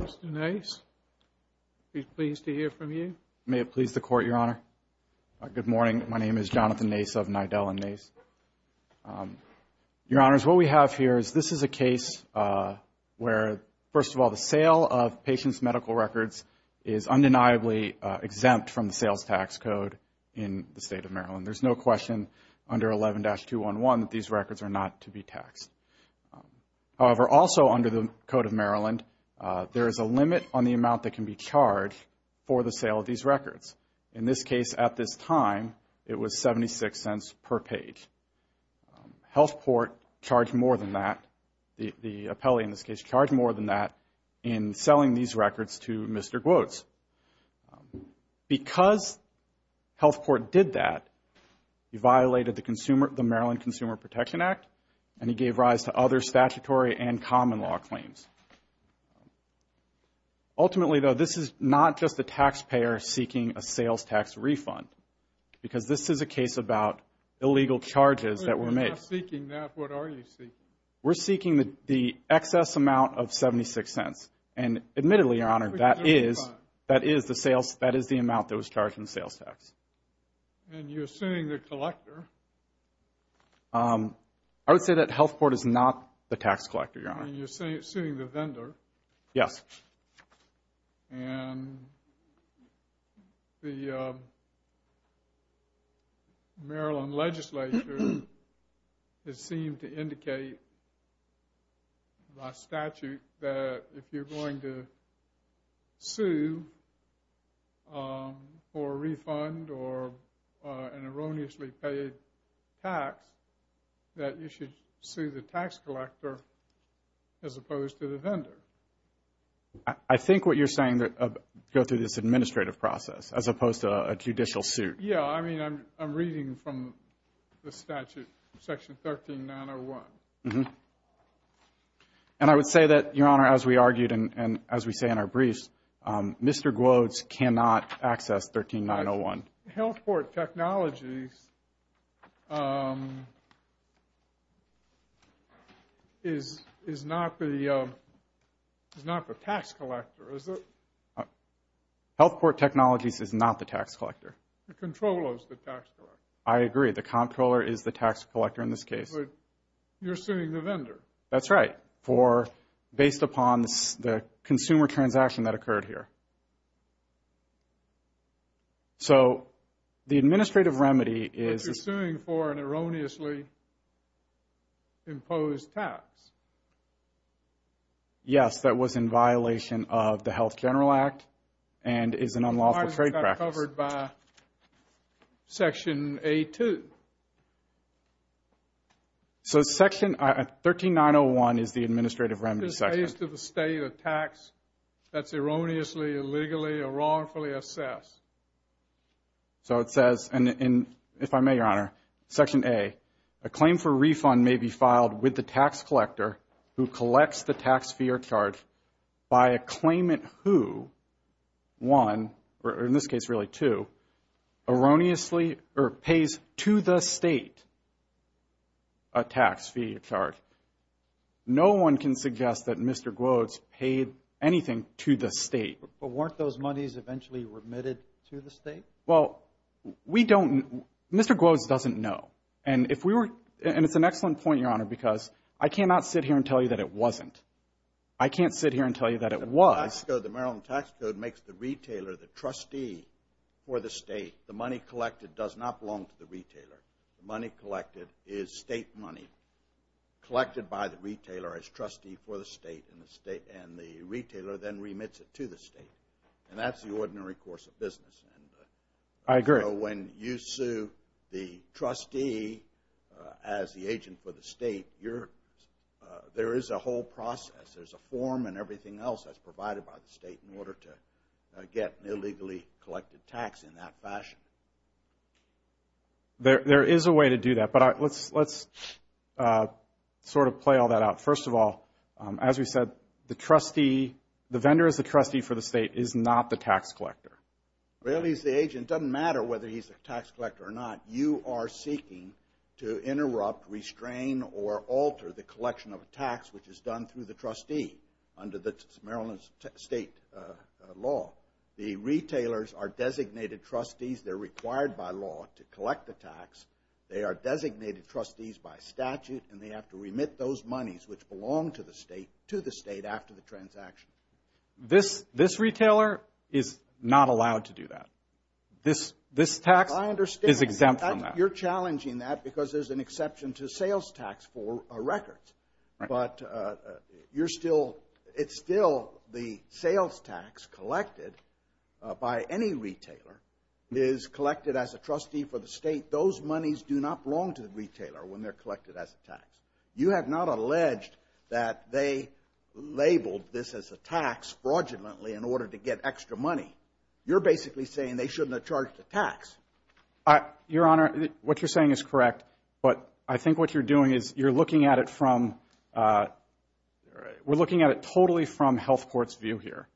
Mr. Nace, pleased to hear from you. May it please the Court, Your Honor. Good morning. My name is Jonathan Nace of Nidell & Nace. Your Honors, what we have here is this is a case where, first of all, the sale of patients' medical records is undeniably exempt from the sales tax code in the State of Maryland. There is no question under 11-211 that these records are not to be taxed. However, also under the Code of Maryland, there is a limit on the amount that can be charged for the sale of these records. In this case, at this time, it was 76 cents per page. Healthport charged more than that, the appellee in this case. Because Healthport did that, he violated the Maryland Consumer Protection Act and he gave rise to other statutory and common law claims. Ultimately, though, this is not just a taxpayer seeking a sales tax refund because this is a case about illegal charges that were made. We're not seeking that. What are you seeking? We're seeking the excess amount of 76 cents. And admittedly, Your Honor, that is the amount that was charged in the sales tax. And you're suing the collector? I would say that Healthport is not the tax collector, Your Honor. And you're suing the vendor? Yes. And the Maryland legislature has seemed to indicate by statute that if you're going to sue for a refund or an erroneously paid tax, that you should sue the tax collector as opposed to the vendor. I think what you're saying, go through this administrative process as opposed to a judicial suit. Yeah. I mean, I'm reading from the statute, Section 13901. And I would say that, Your Honor, as we argued and as we say in our briefs, Mr. Gwodes cannot access 13901. Healthport Technologies is not the tax collector, is it? Healthport Technologies is not the tax collector. The comptroller is the tax collector. I agree. The comptroller is the tax collector in this case. But you're suing the vendor? That's right. Based upon the consumer transaction that occurred here. So, the administrative remedy is... You're suing for an erroneously imposed tax? Yes. That was in violation of the Health General Act and is an unlawful trade practice. Why is that covered by Section A2? So, Section 13901 is the administrative remedy section. Pays to the state a tax that's erroneously, illegally, or wrongfully assessed. So it says, and if I may, Your Honor, Section A, a claim for refund may be filed with the tax collector who collects the tax fee or charge by a claimant who, one, or in this case really two, erroneously or pays to the state a tax fee or charge. No one can suggest that Mr. Gloves paid anything to the state. But weren't those monies eventually remitted to the state? Well, we don't, Mr. Gloves doesn't know. And if we were, and it's an excellent point, Your Honor, because I cannot sit here and tell you that it wasn't. I can't sit here and tell you that it was. The Maryland Tax Code makes the retailer the trustee for the state. The money collected does not belong to the retailer. The money collected is state money collected by the retailer as trustee for the state. And the retailer then remits it to the state. And that's the ordinary course of business. I agree. So when you sue the trustee as the agent for the state, there is a whole process. There's a form and everything else that's provided by the state in order to get an illegally collected tax in that fashion. There is a way to do that. But let's sort of play all that out. First of all, as we said, the trustee, the vendor is the trustee for the state, is not the tax collector. Well, he's the agent. It doesn't matter whether he's a tax collector or not. You are seeking to interrupt, restrain, or alter the collection of a tax which is done through the trustee under Maryland's state law. The retailers are designated trustees. They're required by law to collect the tax. They are designated trustees by statute. And they have to remit those monies which belong to the state to the state after the transaction. This retailer is not allowed to do that. This tax is exempt from that. You're challenging that because there's an exception to sales tax for records. But you're still, it's still the sales tax collected by any retailer is collected as a trustee for the state. Those monies do not belong to the retailer when they're collected as a tax. You have not alleged that they labeled this as a tax fraudulently in order to get extra money. You're basically saying they shouldn't have charged a tax. Your Honor, what you're saying is correct. But I think what you're doing is you're looking at it from, we're looking at it totally from health court's view here.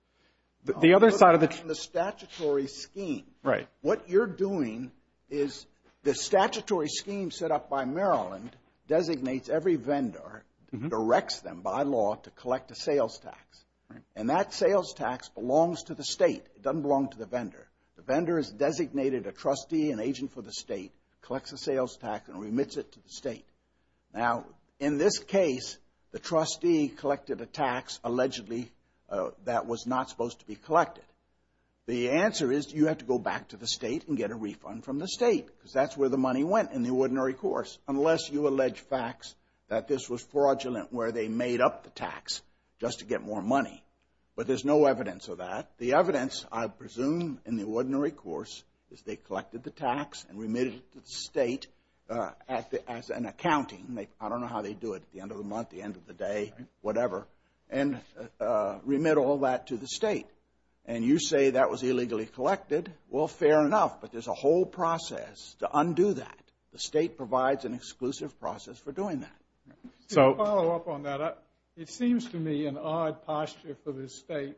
The other side of the. The statutory scheme. Right. What you're doing is the statutory scheme set up by Maryland designates every vendor, directs them by law to collect a sales tax. And that sales tax belongs to the state. It doesn't belong to the vendor. The vendor has designated a trustee, an agent for the state, collects a sales tax and remits it to the state. Now, in this case, the trustee collected a tax allegedly that was not supposed to be collected. The answer is you have to go back to the state and get a refund from the state because that's where the money went in the ordinary course, unless you allege facts that this was fraudulent where they made up the tax just to get more money. But there's no evidence of that. The evidence, I presume, in the ordinary course is they collected the tax and remitted it to the state as an accounting. I don't know how they do it, at the end of the month, the end of the day, whatever, and remit all that to the state. And you say that was illegally collected. Well, fair enough, but there's a whole process to undo that. The state provides an exclusive process for doing that. To follow up on that, it seems to me an odd posture for this state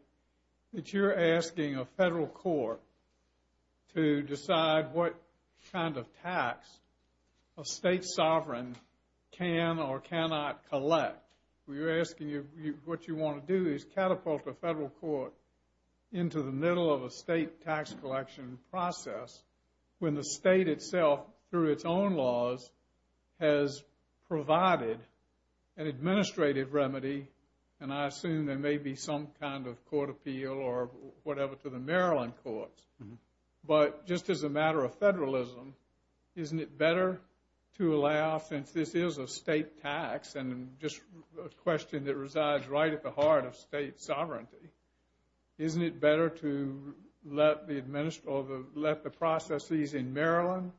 that you're asking a federal court to decide what kind of tax a state sovereign can or cannot collect. What you want to do is catapult the federal court into the middle of a state tax collection process when the state itself, through its own laws, has provided an administrative remedy. And I assume there may be some kind of court appeal or whatever to the Maryland courts. But just as a matter of federalism, isn't it better to allow, since this is a state tax and just a question that resides right at the heart of state sovereignty, isn't it better to let the processes in Maryland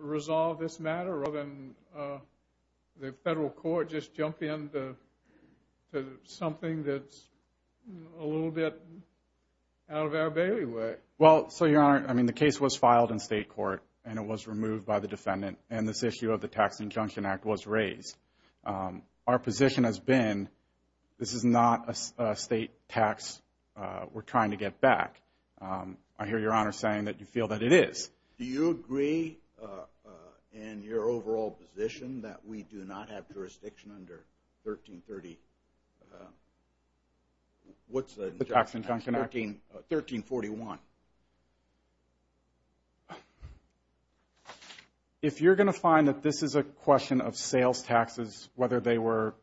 resolve this matter rather than the federal court just jump in to something that's a little bit out of our bailiway? Well, so Your Honor, I mean, the case was filed in state court and it was removed by the defendant and this issue of the Tax Injunction Act was raised. Our position has been this is not a state tax we're trying to get back. I hear Your Honor saying that you feel that it is. Do you agree in your overall position that we do not have jurisdiction under 1330, what's the... The Tax Injunction Act. 1341. 1341. If you're going to find that this is a question of sales taxes, whether they were...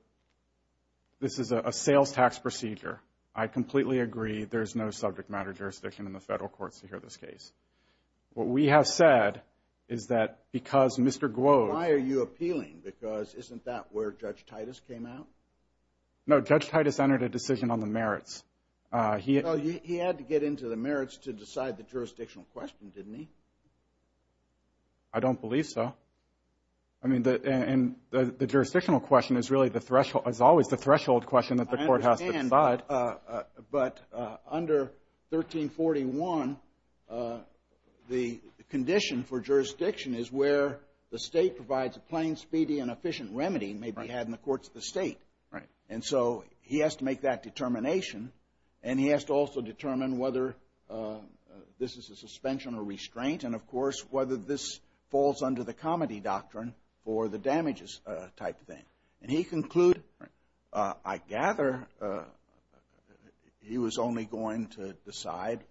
This is a sales tax procedure, I completely agree there's no subject matter jurisdiction in the federal courts to hear this case. What we have said is that because Mr. Gloves... Why are you appealing? Because isn't that where Judge Titus came out? No, Judge Titus entered a decision on the merits. He had to get into the merits to decide the jurisdictional question, didn't he? I don't believe so. I mean, the jurisdictional question is always the threshold question that the court has to decide. I understand, but under 1341, the condition for jurisdiction is where the state provides a plain, speedy, and efficient remedy may be had in the courts of the state. Right. And so he has to make that determination, and he has to also determine whether this is a suspension or restraint, and, of course, whether this falls under the comity doctrine for the damages type thing. And he concluded, I gather, he was only going to decide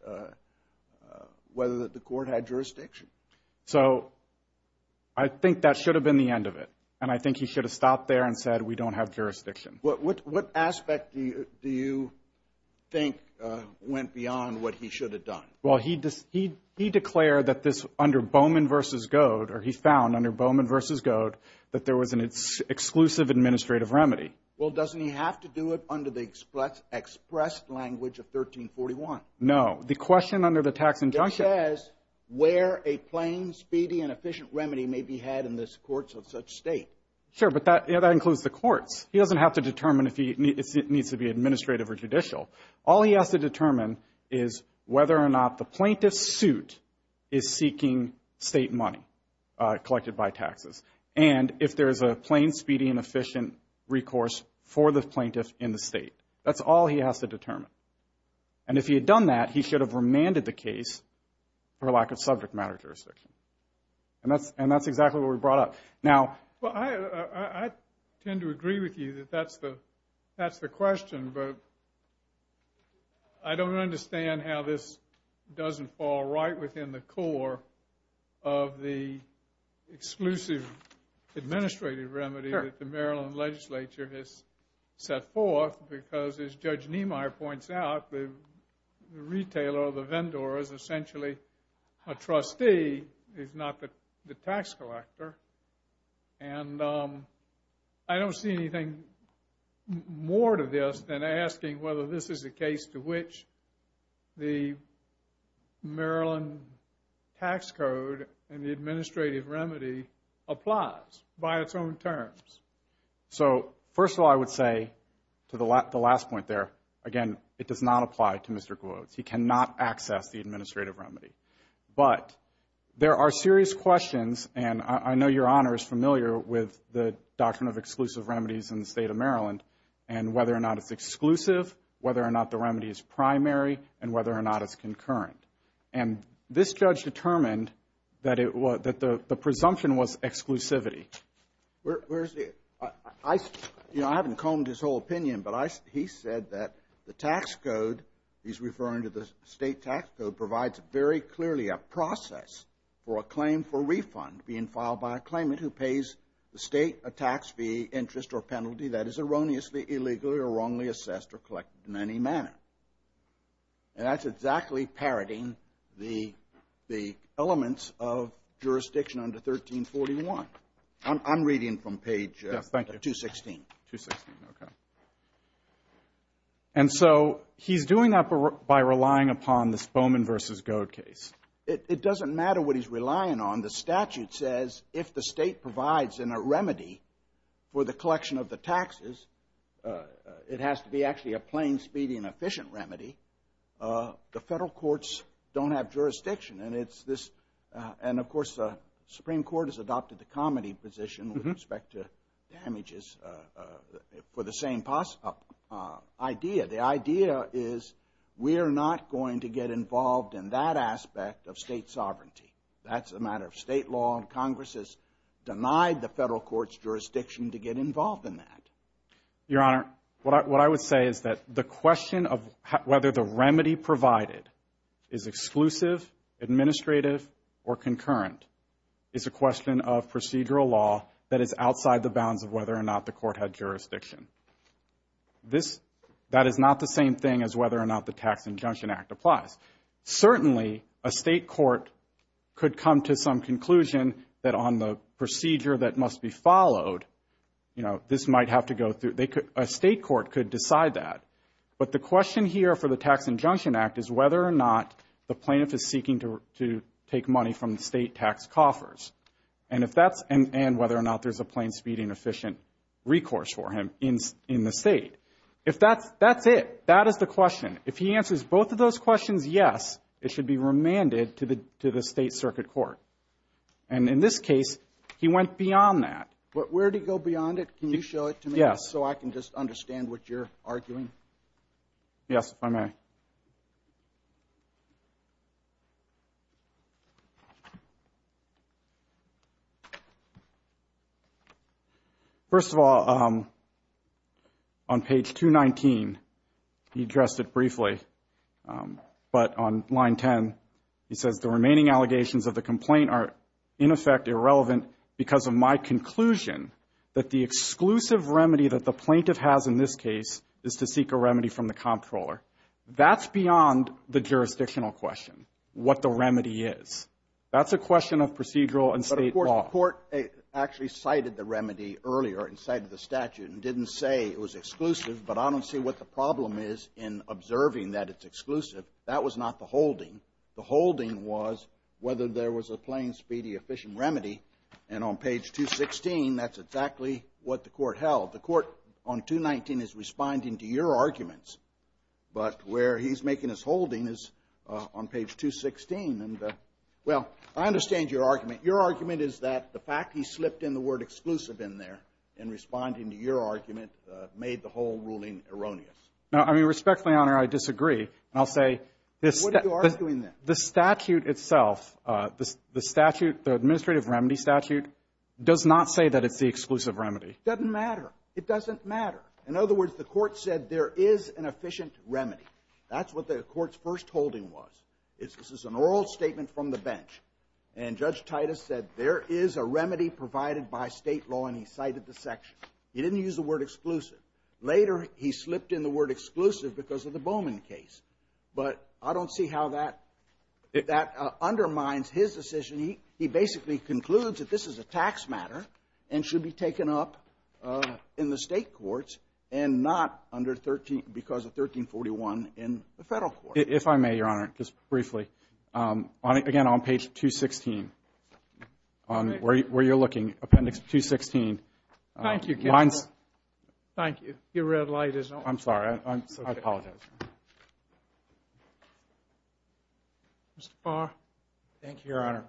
whether the court had jurisdiction. So I think that should have been the end of it, and I think he should have stopped there and said, we don't have jurisdiction. What aspect do you think went beyond what he should have done? Well, he declared that this, under Bowman v. Goad, or he found under Bowman v. Goad, that there was an exclusive administrative remedy. Well, doesn't he have to do it under the expressed language of 1341? No, the question under the tax injunction. It says where a plain, speedy, and efficient remedy may be had in the courts of such state. Sure, but that includes the courts. He doesn't have to determine if it needs to be administrative or judicial. All he has to determine is whether or not the plaintiff's suit is seeking state money collected by taxes and if there is a plain, speedy, and efficient recourse for the plaintiff in the state. That's all he has to determine. And if he had done that, he should have remanded the case for lack of subject matter jurisdiction. And that's exactly what we brought up. Well, I tend to agree with you that that's the question, but I don't understand how this doesn't fall right within the core of the exclusive administrative remedy that the Maryland legislature has set forth because, as Judge Niemeyer points out, the retailer or the vendor is essentially a trustee, is not the tax collector. And I don't see anything more to this than asking whether this is a case to which the Maryland tax code and the administrative remedy applies by its own terms. So, first of all, I would say, to the last point there, again, it does not apply to Mr. Gloves. He cannot access the administrative remedy. But there are serious questions, and I know Your Honor is familiar with the doctrine of exclusive remedies in the state of Maryland and whether or not it's exclusive, whether or not the remedy is primary, and whether or not it's concurrent. And this judge determined that the presumption was exclusivity. I haven't combed his whole opinion, but he said that the tax code, he's referring to the state tax code, provides very clearly a process for a claim for refund being filed by a claimant who pays the state a tax fee, interest, or penalty that is erroneously, illegally, or wrongly assessed or collected in any manner. And that's exactly parroting the elements of jurisdiction under 1341. I'm reading from page 216. Yes, thank you. 216, okay. And so he's doing that by relying upon this Bowman v. Goad case. It doesn't matter what he's relying on. The statute says if the state provides in a remedy for the collection of the taxes, it has to be actually a plain, speedy, and efficient remedy. The federal courts don't have jurisdiction, and it's this. And, of course, the Supreme Court has adopted the comity position with respect to damages for the same idea. The idea is we are not going to get involved in that aspect of state sovereignty. That's a matter of state law, and Congress has denied the federal court's jurisdiction to get involved in that. Your Honor, what I would say is that the question of whether the remedy provided is exclusive, administrative, or concurrent is a question of procedural law that is outside the bounds of whether or not the court had jurisdiction. That is not the same thing as whether or not the Tax Injunction Act applies. Certainly, a state court could come to some conclusion that on the procedure that must be followed, this might have to go through. A state court could decide that. But the question here for the Tax Injunction Act is whether or not the plaintiff is seeking to take money from the state tax coffers and whether or not there's a plain, speedy, and efficient recourse for him in the state. That's it. That is the question. If he answers both of those questions yes, it should be remanded to the state circuit court. And in this case, he went beyond that. But where did he go beyond it? Can you show it to me? Yes. So I can just understand what you're arguing. Yes, if I may. Thank you. First of all, on page 219, he addressed it briefly. But on line 10, he says, the remaining allegations of the complaint are in effect irrelevant because of my conclusion that the exclusive remedy that the plaintiff has in this case is to seek a remedy from the comptroller. That's beyond the jurisdictional question, what the remedy is. That's a question of procedural and state law. But, of course, the court actually cited the remedy earlier and cited the statute and didn't say it was exclusive. But I don't see what the problem is in observing that it's exclusive. That was not the holding. The holding was whether there was a plain, speedy, efficient remedy. And on page 216, that's exactly what the court held. The court on 219 is responding to your arguments. But where he's making his holding is on page 216. And, well, I understand your argument. Your argument is that the fact he slipped in the word exclusive in there in responding to your argument made the whole ruling erroneous. No, I mean, respectfully, Your Honor, I disagree. And I'll say this statute itself, the statute, the administrative remedy statute, does not say that it's the exclusive remedy. It doesn't matter. It doesn't matter. In other words, the court said there is an efficient remedy. That's what the court's first holding was. This is an oral statement from the bench. And Judge Titus said there is a remedy provided by state law, and he cited the section. He didn't use the word exclusive. Later, he slipped in the word exclusive because of the Bowman case. But I don't see how that undermines his decision. He basically concludes that this is a tax matter and should be taken up in the state courts and not because of 1341 in the federal court. If I may, Your Honor, just briefly. Again, on page 216, where you're looking, appendix 216. Thank you. Thank you. Your red light is on. I'm sorry. I apologize. Mr. Barr. Thank you, Your Honor.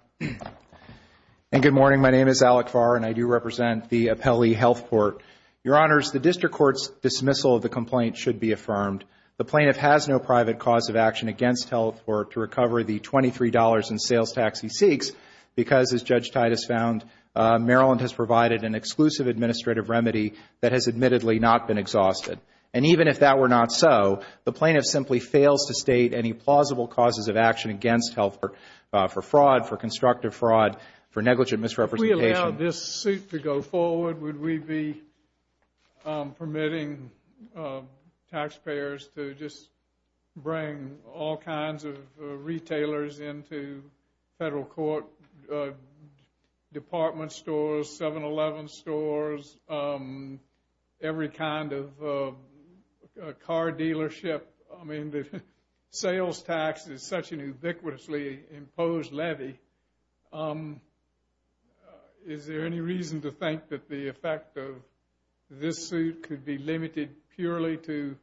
And good morning. My name is Alec Barr, and I do represent the Appellee Health Court. Your Honors, the district court's dismissal of the complaint should be affirmed. The plaintiff has no private cause of action against Health Court to recover the $23 in sales tax he seeks because, as Judge Titus found, Maryland has provided an exclusive administrative remedy that has admittedly not been exhausted. And even if that were not so, the plaintiff simply fails to state any plausible causes of action against Health Court for fraud, for constructive fraud, for negligent misrepresentation. If we allow this suit to go forward, would we be permitting taxpayers to just bring all kinds of retailers into federal court, department stores, 7-Eleven stores, every kind of car dealership? I mean, the sales tax is such an ubiquitously imposed levy. Is there any reason to think that the effect of this suit could be limited purely to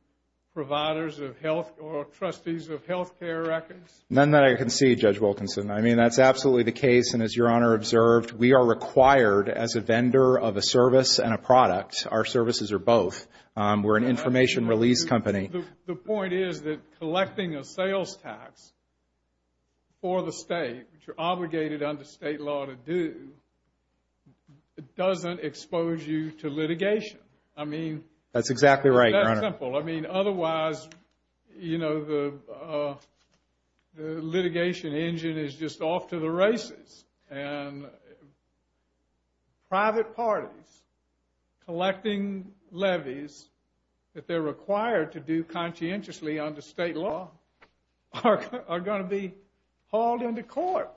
providers of health or trustees of health care records? None that I can see, Judge Wilkinson. I mean, that's absolutely the case. And as Your Honor observed, we are required as a vendor of a service and a product. Our services are both. We're an information release company. The point is that collecting a sales tax for the state, which you're obligated under state law to do, doesn't expose you to litigation. That's exactly right, Your Honor. It's simple. I mean, otherwise, you know, the litigation engine is just off to the races. And private parties collecting levies that they're required to do conscientiously under state law are going to be hauled into court.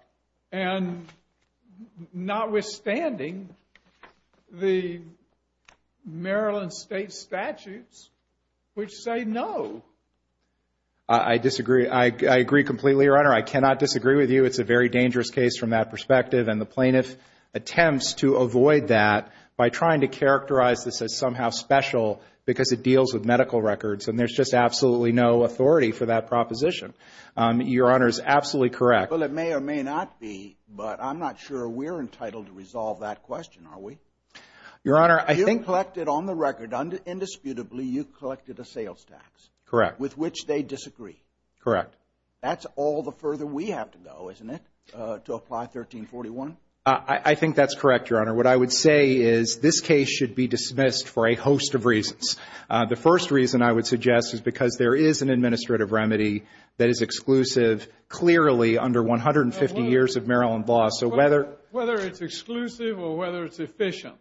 And notwithstanding the Maryland state statutes, which say no. I disagree. I agree completely, Your Honor. I cannot disagree with you. It's a very dangerous case from that perspective. And the plaintiff attempts to avoid that by trying to characterize this as somehow special because it deals with medical records. And there's just absolutely no authority for that proposition. Your Honor is absolutely correct. Well, it may or may not be, but I'm not sure we're entitled to resolve that question, are we? Your Honor, I think. You collected on the record, indisputably, you collected a sales tax. Correct. With which they disagree. Correct. That's all the further we have to go, isn't it, to apply 1341? I think that's correct, Your Honor. What I would say is this case should be dismissed for a host of reasons. The first reason, I would suggest, is because there is an administrative remedy that is exclusive, clearly, under 150 years of Maryland law. So whether it's exclusive or whether it's efficient,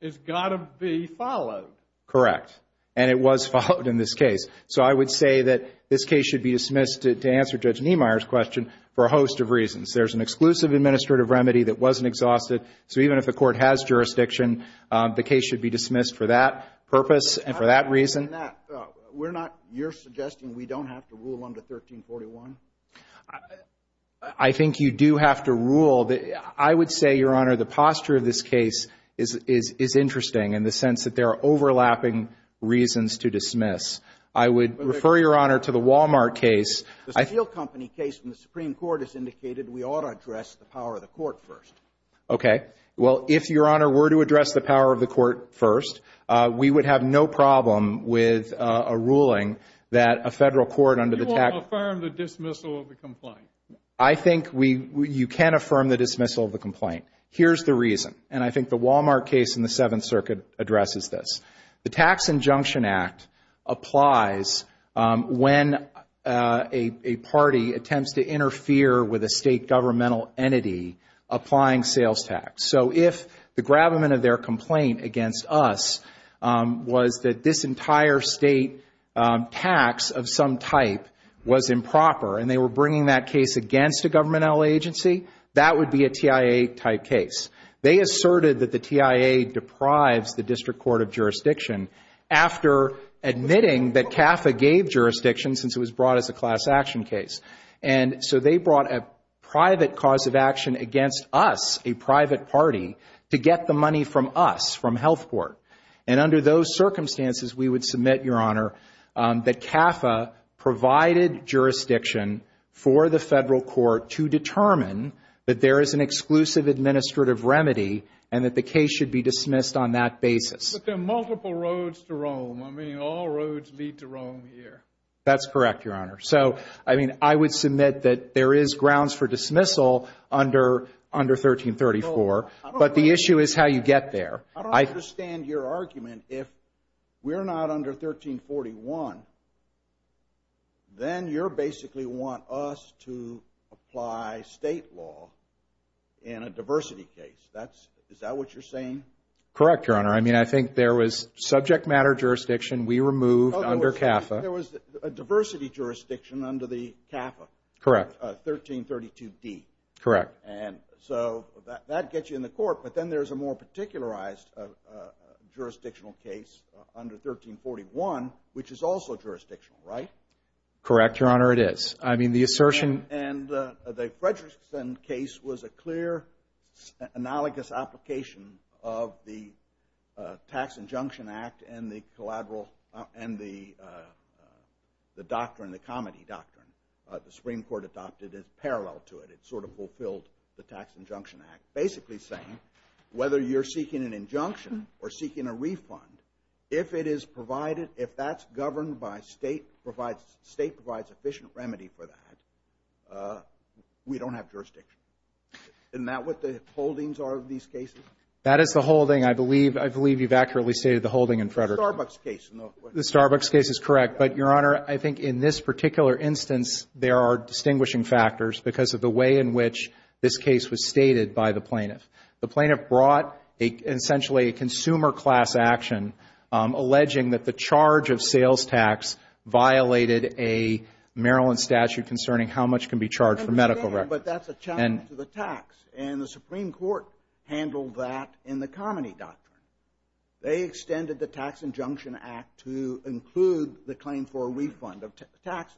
it's got to be followed. Correct. And it was followed in this case. So I would say that this case should be dismissed, to answer Judge Niemeyer's question, for a host of reasons. There's an exclusive administrative remedy that wasn't exhausted. So even if the Court has jurisdiction, the case should be dismissed for that purpose and for that reason. We're not ‑‑ you're suggesting we don't have to rule under 1341? I think you do have to rule. I would say, Your Honor, the posture of this case is interesting in the sense that there are overlapping reasons to dismiss. I would refer, Your Honor, to the Walmart case. The steel company case in the Supreme Court has indicated we ought to address the power of the Court first. Okay. Well, if, Your Honor, were to address the power of the Court first, we would have no problem with a ruling that a federal court under the tax ‑‑ You won't affirm the dismissal of the complaint. I think we ‑‑ you can affirm the dismissal of the complaint. Here's the reason, and I think the Walmart case in the Seventh Circuit addresses this. The Tax Injunction Act applies when a party attempts to interfere with a state governmental entity applying sales tax. So if the gravamen of their complaint against us was that this entire state tax of some type was improper and they were bringing that case against a governmental agency, that would be a TIA‑type case. They asserted that the TIA deprives the District Court of jurisdiction after admitting that CAFA gave jurisdiction since it was brought as a class action case. And so they brought a private cause of action against us, a private party, to get the money from us, from Health Board. And under those circumstances, we would submit, Your Honor, that CAFA provided jurisdiction for the federal court to determine that there is an exclusive administrative remedy and that the case should be dismissed on that basis. But there are multiple roads to Rome. I mean, all roads lead to Rome here. That's correct, Your Honor. So, I mean, I would submit that there is grounds for dismissal under 1334, but the issue is how you get there. I don't understand your argument. If we're not under 1341, then you basically want us to apply state law in a diversity case. Is that what you're saying? Correct, Your Honor. I mean, I think there was subject matter jurisdiction we removed under CAFA. There was a diversity jurisdiction under the CAFA. Correct. 1332D. Correct. And so that gets you in the court, but then there's a more particularized jurisdictional case under 1341, which is also jurisdictional, right? Correct, Your Honor, it is. I mean, the assertion – And the Fredrickson case was a clear, analogous application of the Tax Injunction Act and the collateral – and the doctrine, the comity doctrine the Supreme Court adopted is parallel to it. It sort of fulfilled the Tax Injunction Act, basically saying whether you're seeking an injunction or seeking a refund, if it is provided – if that's governed by state – state provides efficient remedy for that, we don't have jurisdiction. Isn't that what the holdings are of these cases? That is the holding. I believe you've accurately stated the holding in Fredrickson. The Starbucks case. The Starbucks case is correct, but, Your Honor, I think in this particular instance, there are distinguishing factors because of the way in which this case was stated by the plaintiff. The plaintiff brought essentially a consumer class action, alleging that the charge of sales tax violated a Maryland statute concerning how much can be charged for medical records. I understand, but that's a challenge to the tax, and the Supreme Court handled that in the comity doctrine. They extended the Tax Injunction Act to include the claim for a refund of taxes.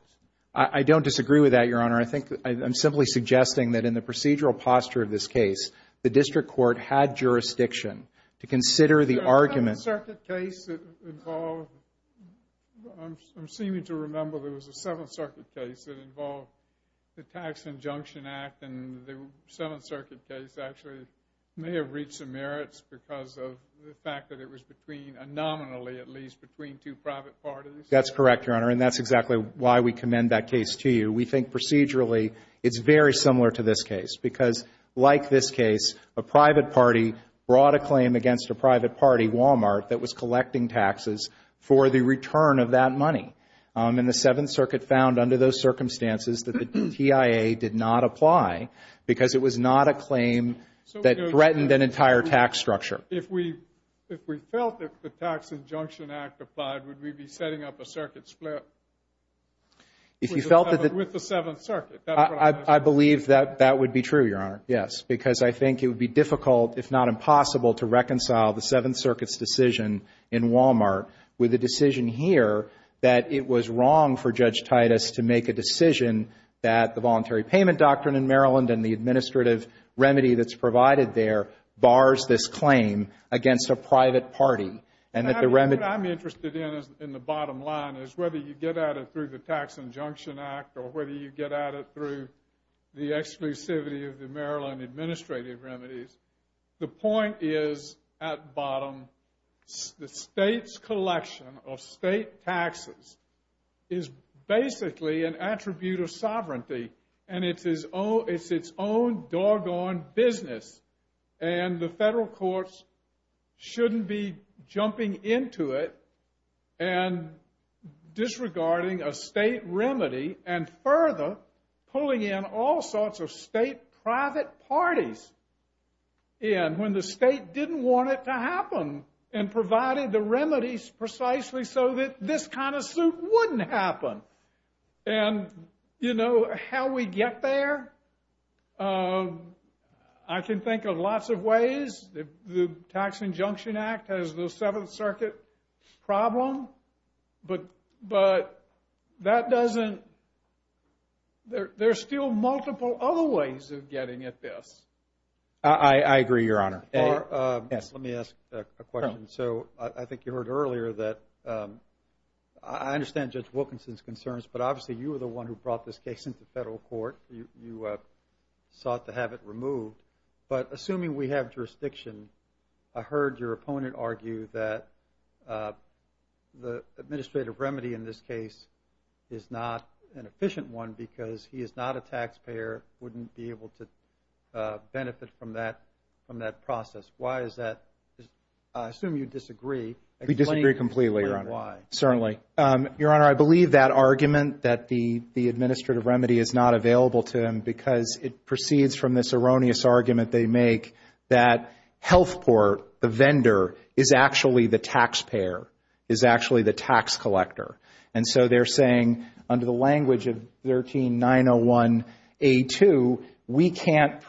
I don't disagree with that, Your Honor. I think I'm simply suggesting that in the procedural posture of this case, the district court had jurisdiction to consider the argument. The Seventh Circuit case involved – I'm seeming to remember there was a Seventh Circuit case that involved the Tax Injunction Act, and the Seventh Circuit case actually may have reached some merits because of the fact that it was between, nominally at least, between two private parties. That's correct, Your Honor, and that's exactly why we commend that case to you. We think procedurally it's very similar to this case because, like this case, a private party brought a claim against a private party, Walmart, that was collecting taxes for the return of that money. And the Seventh Circuit found under those circumstances that the TIA did not apply because it was not a claim that threatened an entire tax structure. If we felt that the Tax Injunction Act applied, would we be setting up a circuit split with the Seventh Circuit? I believe that that would be true, Your Honor, yes, because I think it would be difficult, if not impossible, to reconcile the Seventh Circuit's decision in Walmart with the decision here that it was wrong for Judge Titus to make a decision that the Voluntary Payment Doctrine in Maryland and the administrative remedy that's provided there bars this claim against a private party. What I'm interested in, in the bottom line, is whether you get at it through the Tax Injunction Act or whether you get at it through the exclusivity of the Maryland administrative remedies. The point is, at bottom, the state's collection of state taxes is basically an attribute of sovereignty. And it's its own doggone business. And the federal courts shouldn't be jumping into it and disregarding a state remedy and further pulling in all sorts of state private parties when the state didn't want it to happen and provided the remedies precisely so that this kind of suit wouldn't happen. And, you know, how we get there? I can think of lots of ways. The Tax Injunction Act has the Seventh Circuit problem. But that doesn't... There's still multiple other ways of getting at this. I agree, Your Honor. Let me ask a question. So I think you heard earlier that I understand Judge Wilkinson's concerns, but obviously you were the one who brought this case into federal court. You sought to have it removed. But assuming we have jurisdiction, I heard your opponent argue that the administrative remedy in this case is not an efficient one because he is not a taxpayer, wouldn't be able to benefit from that process. Why is that? I assume you disagree. We disagree completely, Your Honor. Certainly. Your Honor, I believe that argument that the administrative remedy is not available to him because it proceeds from this erroneous argument they make that Health Port, the vendor, is actually the taxpayer, is actually the tax collector. And so they're saying, under the language of 13901A2, we can't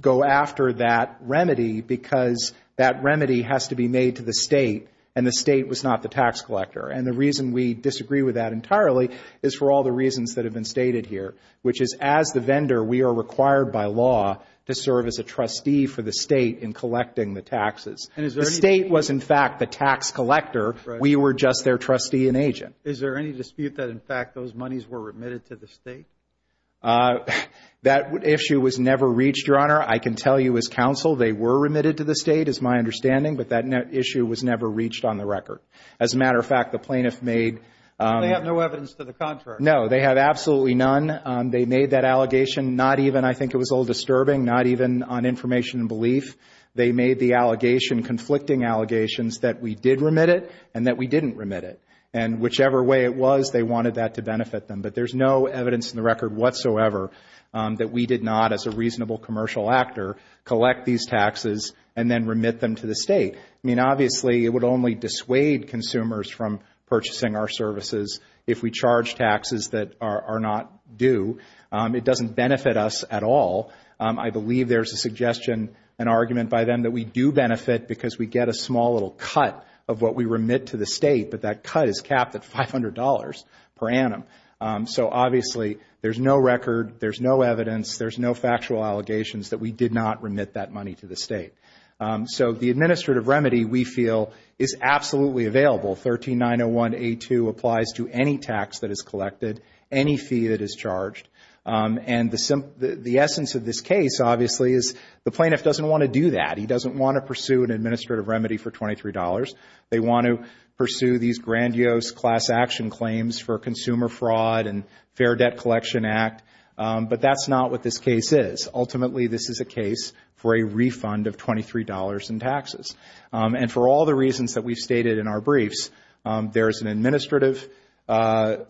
go after that remedy because that remedy has to be made to the state and the state was not the tax collector. And the reason we disagree with that entirely is for all the reasons that have been stated here, which is, as the vendor, we are required by law to serve as a trustee for the state in collecting the taxes. The state was, in fact, the tax collector. We were just their trustee and agent. Is there any dispute that, in fact, those monies were remitted to the state? That issue was never reached, Your Honor. I can tell you as counsel they were remitted to the state, is my understanding, but that issue was never reached on the record. As a matter of fact, the plaintiff made no evidence to the contrary. No, they had absolutely none. They made that allegation not even, I think it was a little disturbing, not even on information and belief. They made the allegation, conflicting allegations, that we did remit it and that we didn't remit it. And whichever way it was, they wanted that to benefit them. But there's no evidence in the record whatsoever that we did not, as a reasonable commercial actor, collect these taxes and then remit them to the state. I mean, obviously, it would only dissuade consumers from purchasing our services if we charge taxes that are not due. It doesn't benefit us at all. I believe there's a suggestion, an argument by them that we do benefit because we get a small little cut of what we remit to the state, but that cut is capped at $500 per annum. So, obviously, there's no record, there's no evidence, there's no factual allegations that we did not remit that money to the state. So the administrative remedy, we feel, is absolutely available. 13901A2 applies to any tax that is collected, any fee that is charged. And the essence of this case, obviously, is the plaintiff doesn't want to do that. He doesn't want to pursue an administrative remedy for $23. They want to pursue these grandiose class action claims for consumer fraud and Fair Debt Collection Act. But that's not what this case is. Ultimately, this is a case for a refund of $23 in taxes. And for all the reasons that we've stated in our briefs, there's an administrative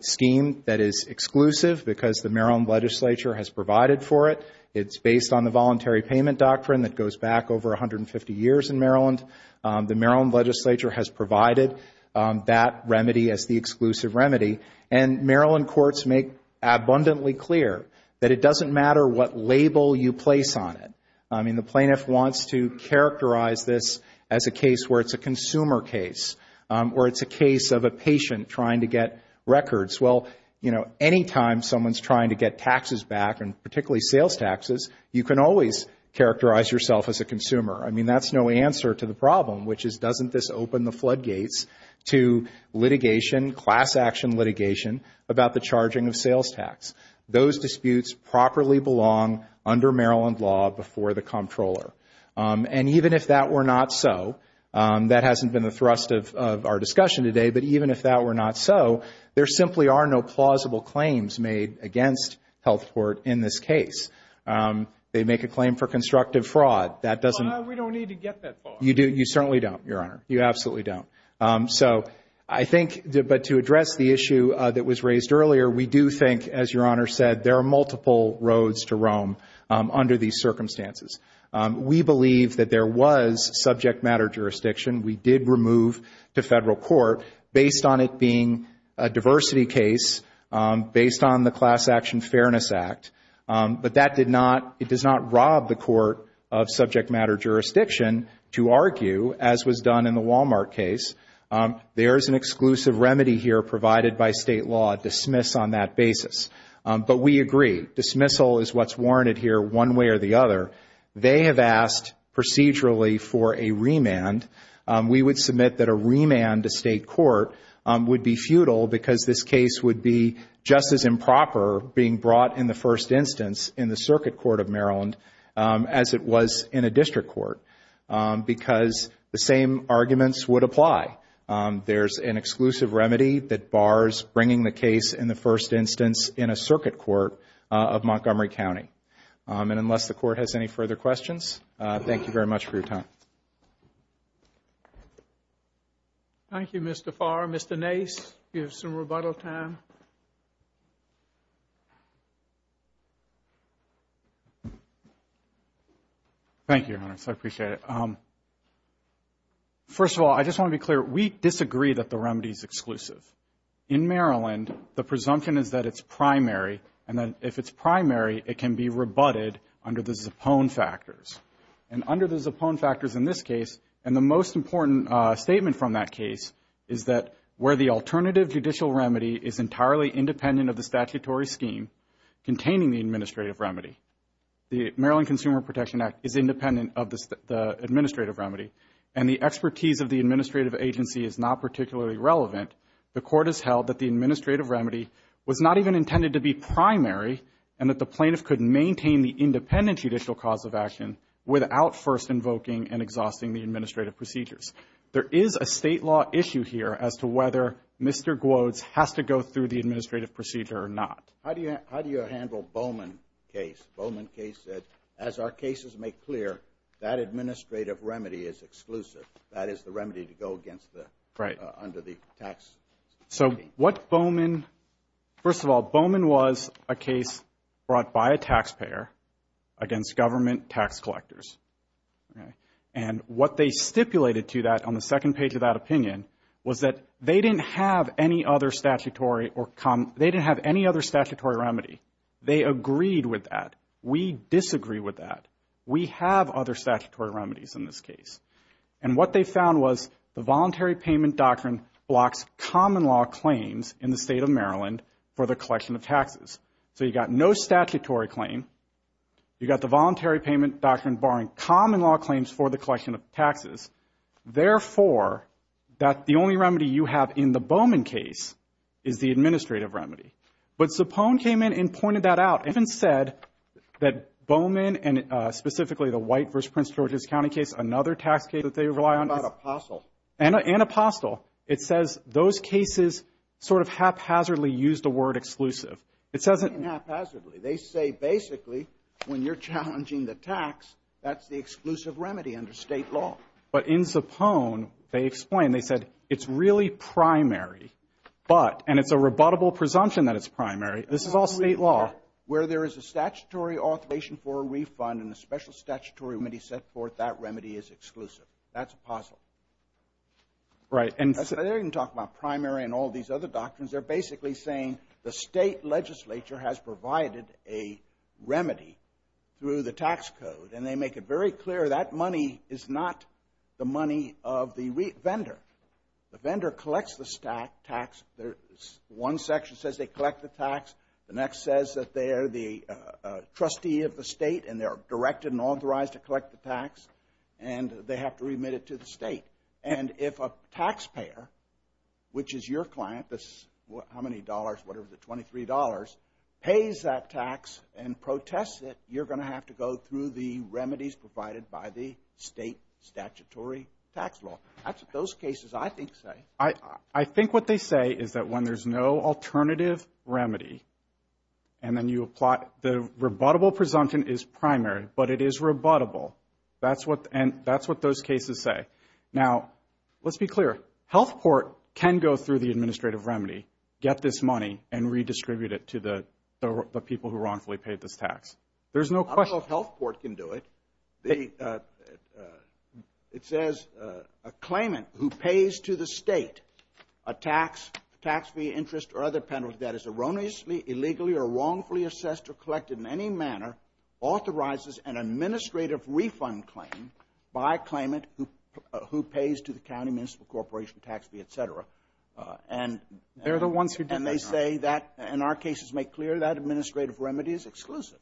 scheme that is exclusive because the Maryland legislature has provided for it. It's based on the voluntary payment doctrine that goes back over 150 years in Maryland. The Maryland legislature has provided that remedy as the exclusive remedy. And Maryland courts make abundantly clear that it doesn't matter what label you place on it. I mean, the plaintiff wants to characterize this as a case where it's a consumer case or it's a case of a patient trying to get records. Well, you know, anytime someone's trying to get taxes back, and particularly sales taxes, you can always characterize yourself as a consumer. I mean, that's no answer to the problem, which is doesn't this open the floodgates to litigation, class action litigation about the charging of sales tax. Those disputes properly belong under Maryland law before the comptroller. And even if that were not so, that hasn't been the thrust of our discussion today, but even if that were not so, there simply are no plausible claims made against health court in this case. They make a claim for constructive fraud. We don't need to get that far. You certainly don't, Your Honor. You absolutely don't. So I think, but to address the issue that was raised earlier, we do think, as Your Honor said, there are multiple roads to roam under these circumstances. We believe that there was subject matter jurisdiction. We did remove to federal court, based on it being a diversity case, based on the Class Action Fairness Act. But that did not, it does not rob the court of subject matter jurisdiction to argue, as was done in the Walmart case, there is an exclusive remedy here provided by state law, dismiss on that basis. But we agree, dismissal is what's warranted here one way or the other. They have asked procedurally for a remand. We would submit that a remand to state court would be futile because this case would be just as improper being brought in the first instance in the circuit court of Maryland as it was in a district court because the same arguments would apply. There's an exclusive remedy that bars bringing the case in the first instance in a circuit court of Montgomery County. And unless the Court has any further questions, thank you very much for your time. Thank you, Mr. Farr. Mr. Nace, you have some rebuttal time. Thank you, Your Honor. I appreciate it. First of all, I just want to be clear, we disagree that the remedy is exclusive. In Maryland, the presumption is that it's primary, and then if it's primary, it can be rebutted under the Zipone factors. And under the Zipone factors in this case, and the most important statement from that case is that where the alternative judicial remedy is entirely independent of the statutory scheme containing the administrative remedy, the Maryland Consumer Protection Act is independent of the administrative remedy, and the expertise of the administrative agency is not particularly relevant, the Court has held that the administrative remedy was not even intended to be primary and that the plaintiff could maintain the independent judicial cause of action without first invoking and exhausting the administrative procedures. There is a state law issue here as to whether Mr. Gwodes has to go through the administrative procedure or not. How do you handle Bowman case? Bowman case said, as our cases make clear, that administrative remedy is exclusive. That is the remedy to go against the, under the tax scheme. So what Bowman, first of all, Bowman was a case brought by a taxpayer against government tax collectors. And what they stipulated to that on the second page of that opinion was that they didn't have any other statutory remedy. They agreed with that. We disagree with that. We have other statutory remedies in this case. And what they found was the voluntary payment doctrine blocks common law claims in the state of Maryland for the collection of taxes. So you got no statutory claim. You got the voluntary payment doctrine barring common law claims for the collection of taxes. Therefore, that the only remedy you have in the Bowman case is the administrative remedy. But Supone came in and pointed that out. It's been said that Bowman and specifically the White v. Prince George's County case, another tax case that they rely on. And Apostle. And Apostle. It says those cases sort of haphazardly used the word exclusive. It says it haphazardly. They say basically when you're challenging the tax, that's the exclusive remedy under state law. But in Supone, they explained. They said it's really primary, but, and it's a rebuttable presumption that it's primary. This is all state law. Where there is a statutory authorization for a refund and a special statutory remedy set forth, that remedy is exclusive. That's Apostle. Right. They didn't talk about primary and all these other doctrines. They're basically saying the state legislature has provided a remedy through the tax code. And they make it very clear that money is not the money of the vendor. The vendor collects the tax. One section says they collect the tax. The next says that they are the trustee of the state and they are directed and authorized to collect the tax. And they have to remit it to the state. And if a taxpayer, which is your client, how many dollars, what is it, $23, pays that tax and protests it, you're going to have to go through the remedies provided by the state statutory tax law. That's what those cases, I think, say. I think what they say is that when there's no alternative remedy and then you apply, the rebuttable presumption is primary, but it is rebuttable. That's what those cases say. Now, let's be clear. Health Port can go through the administrative remedy, get this money, and redistribute it to the people who wrongfully paid this tax. There's no question. I don't know if Health Port can do it. It says a claimant who pays to the state a tax, tax fee, interest, or other penalty that is erroneously, illegally, or wrongfully assessed or collected in any manner authorizes an administrative refund claim by a claimant who pays to the county, municipal corporation, tax fee, et cetera. And they say that, in our cases, make clear that administrative remedy is exclusive.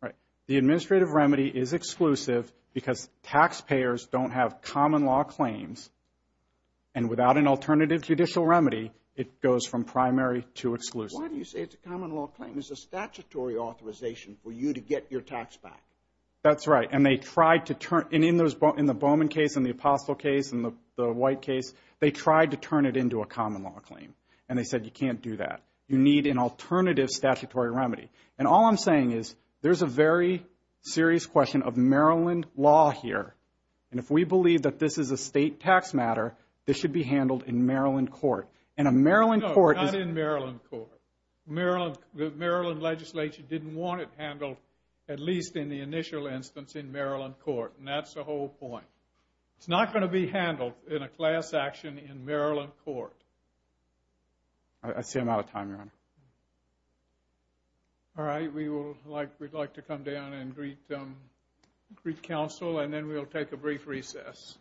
Right. The administrative remedy is exclusive because taxpayers don't have common law claims. And without an alternative judicial remedy, it goes from primary to exclusive. Why do you say it's a common law claim? It's a statutory authorization for you to get your tax back. That's right. And they tried to turn it. In the Bowman case and the Apostle case and the White case, they tried to turn it into a common law claim. And they said you can't do that. You need an alternative statutory remedy. And all I'm saying is there's a very serious question of Maryland law here. And if we believe that this is a state tax matter, this should be handled in Maryland court. No, not in Maryland court. The Maryland legislature didn't want it handled, at least in the initial instance, in Maryland court. And that's the whole point. It's not going to be handled in a class action in Maryland court. I see I'm out of time, Your Honor. All right. We would like to come down and greet counsel. And then we'll take a brief recess.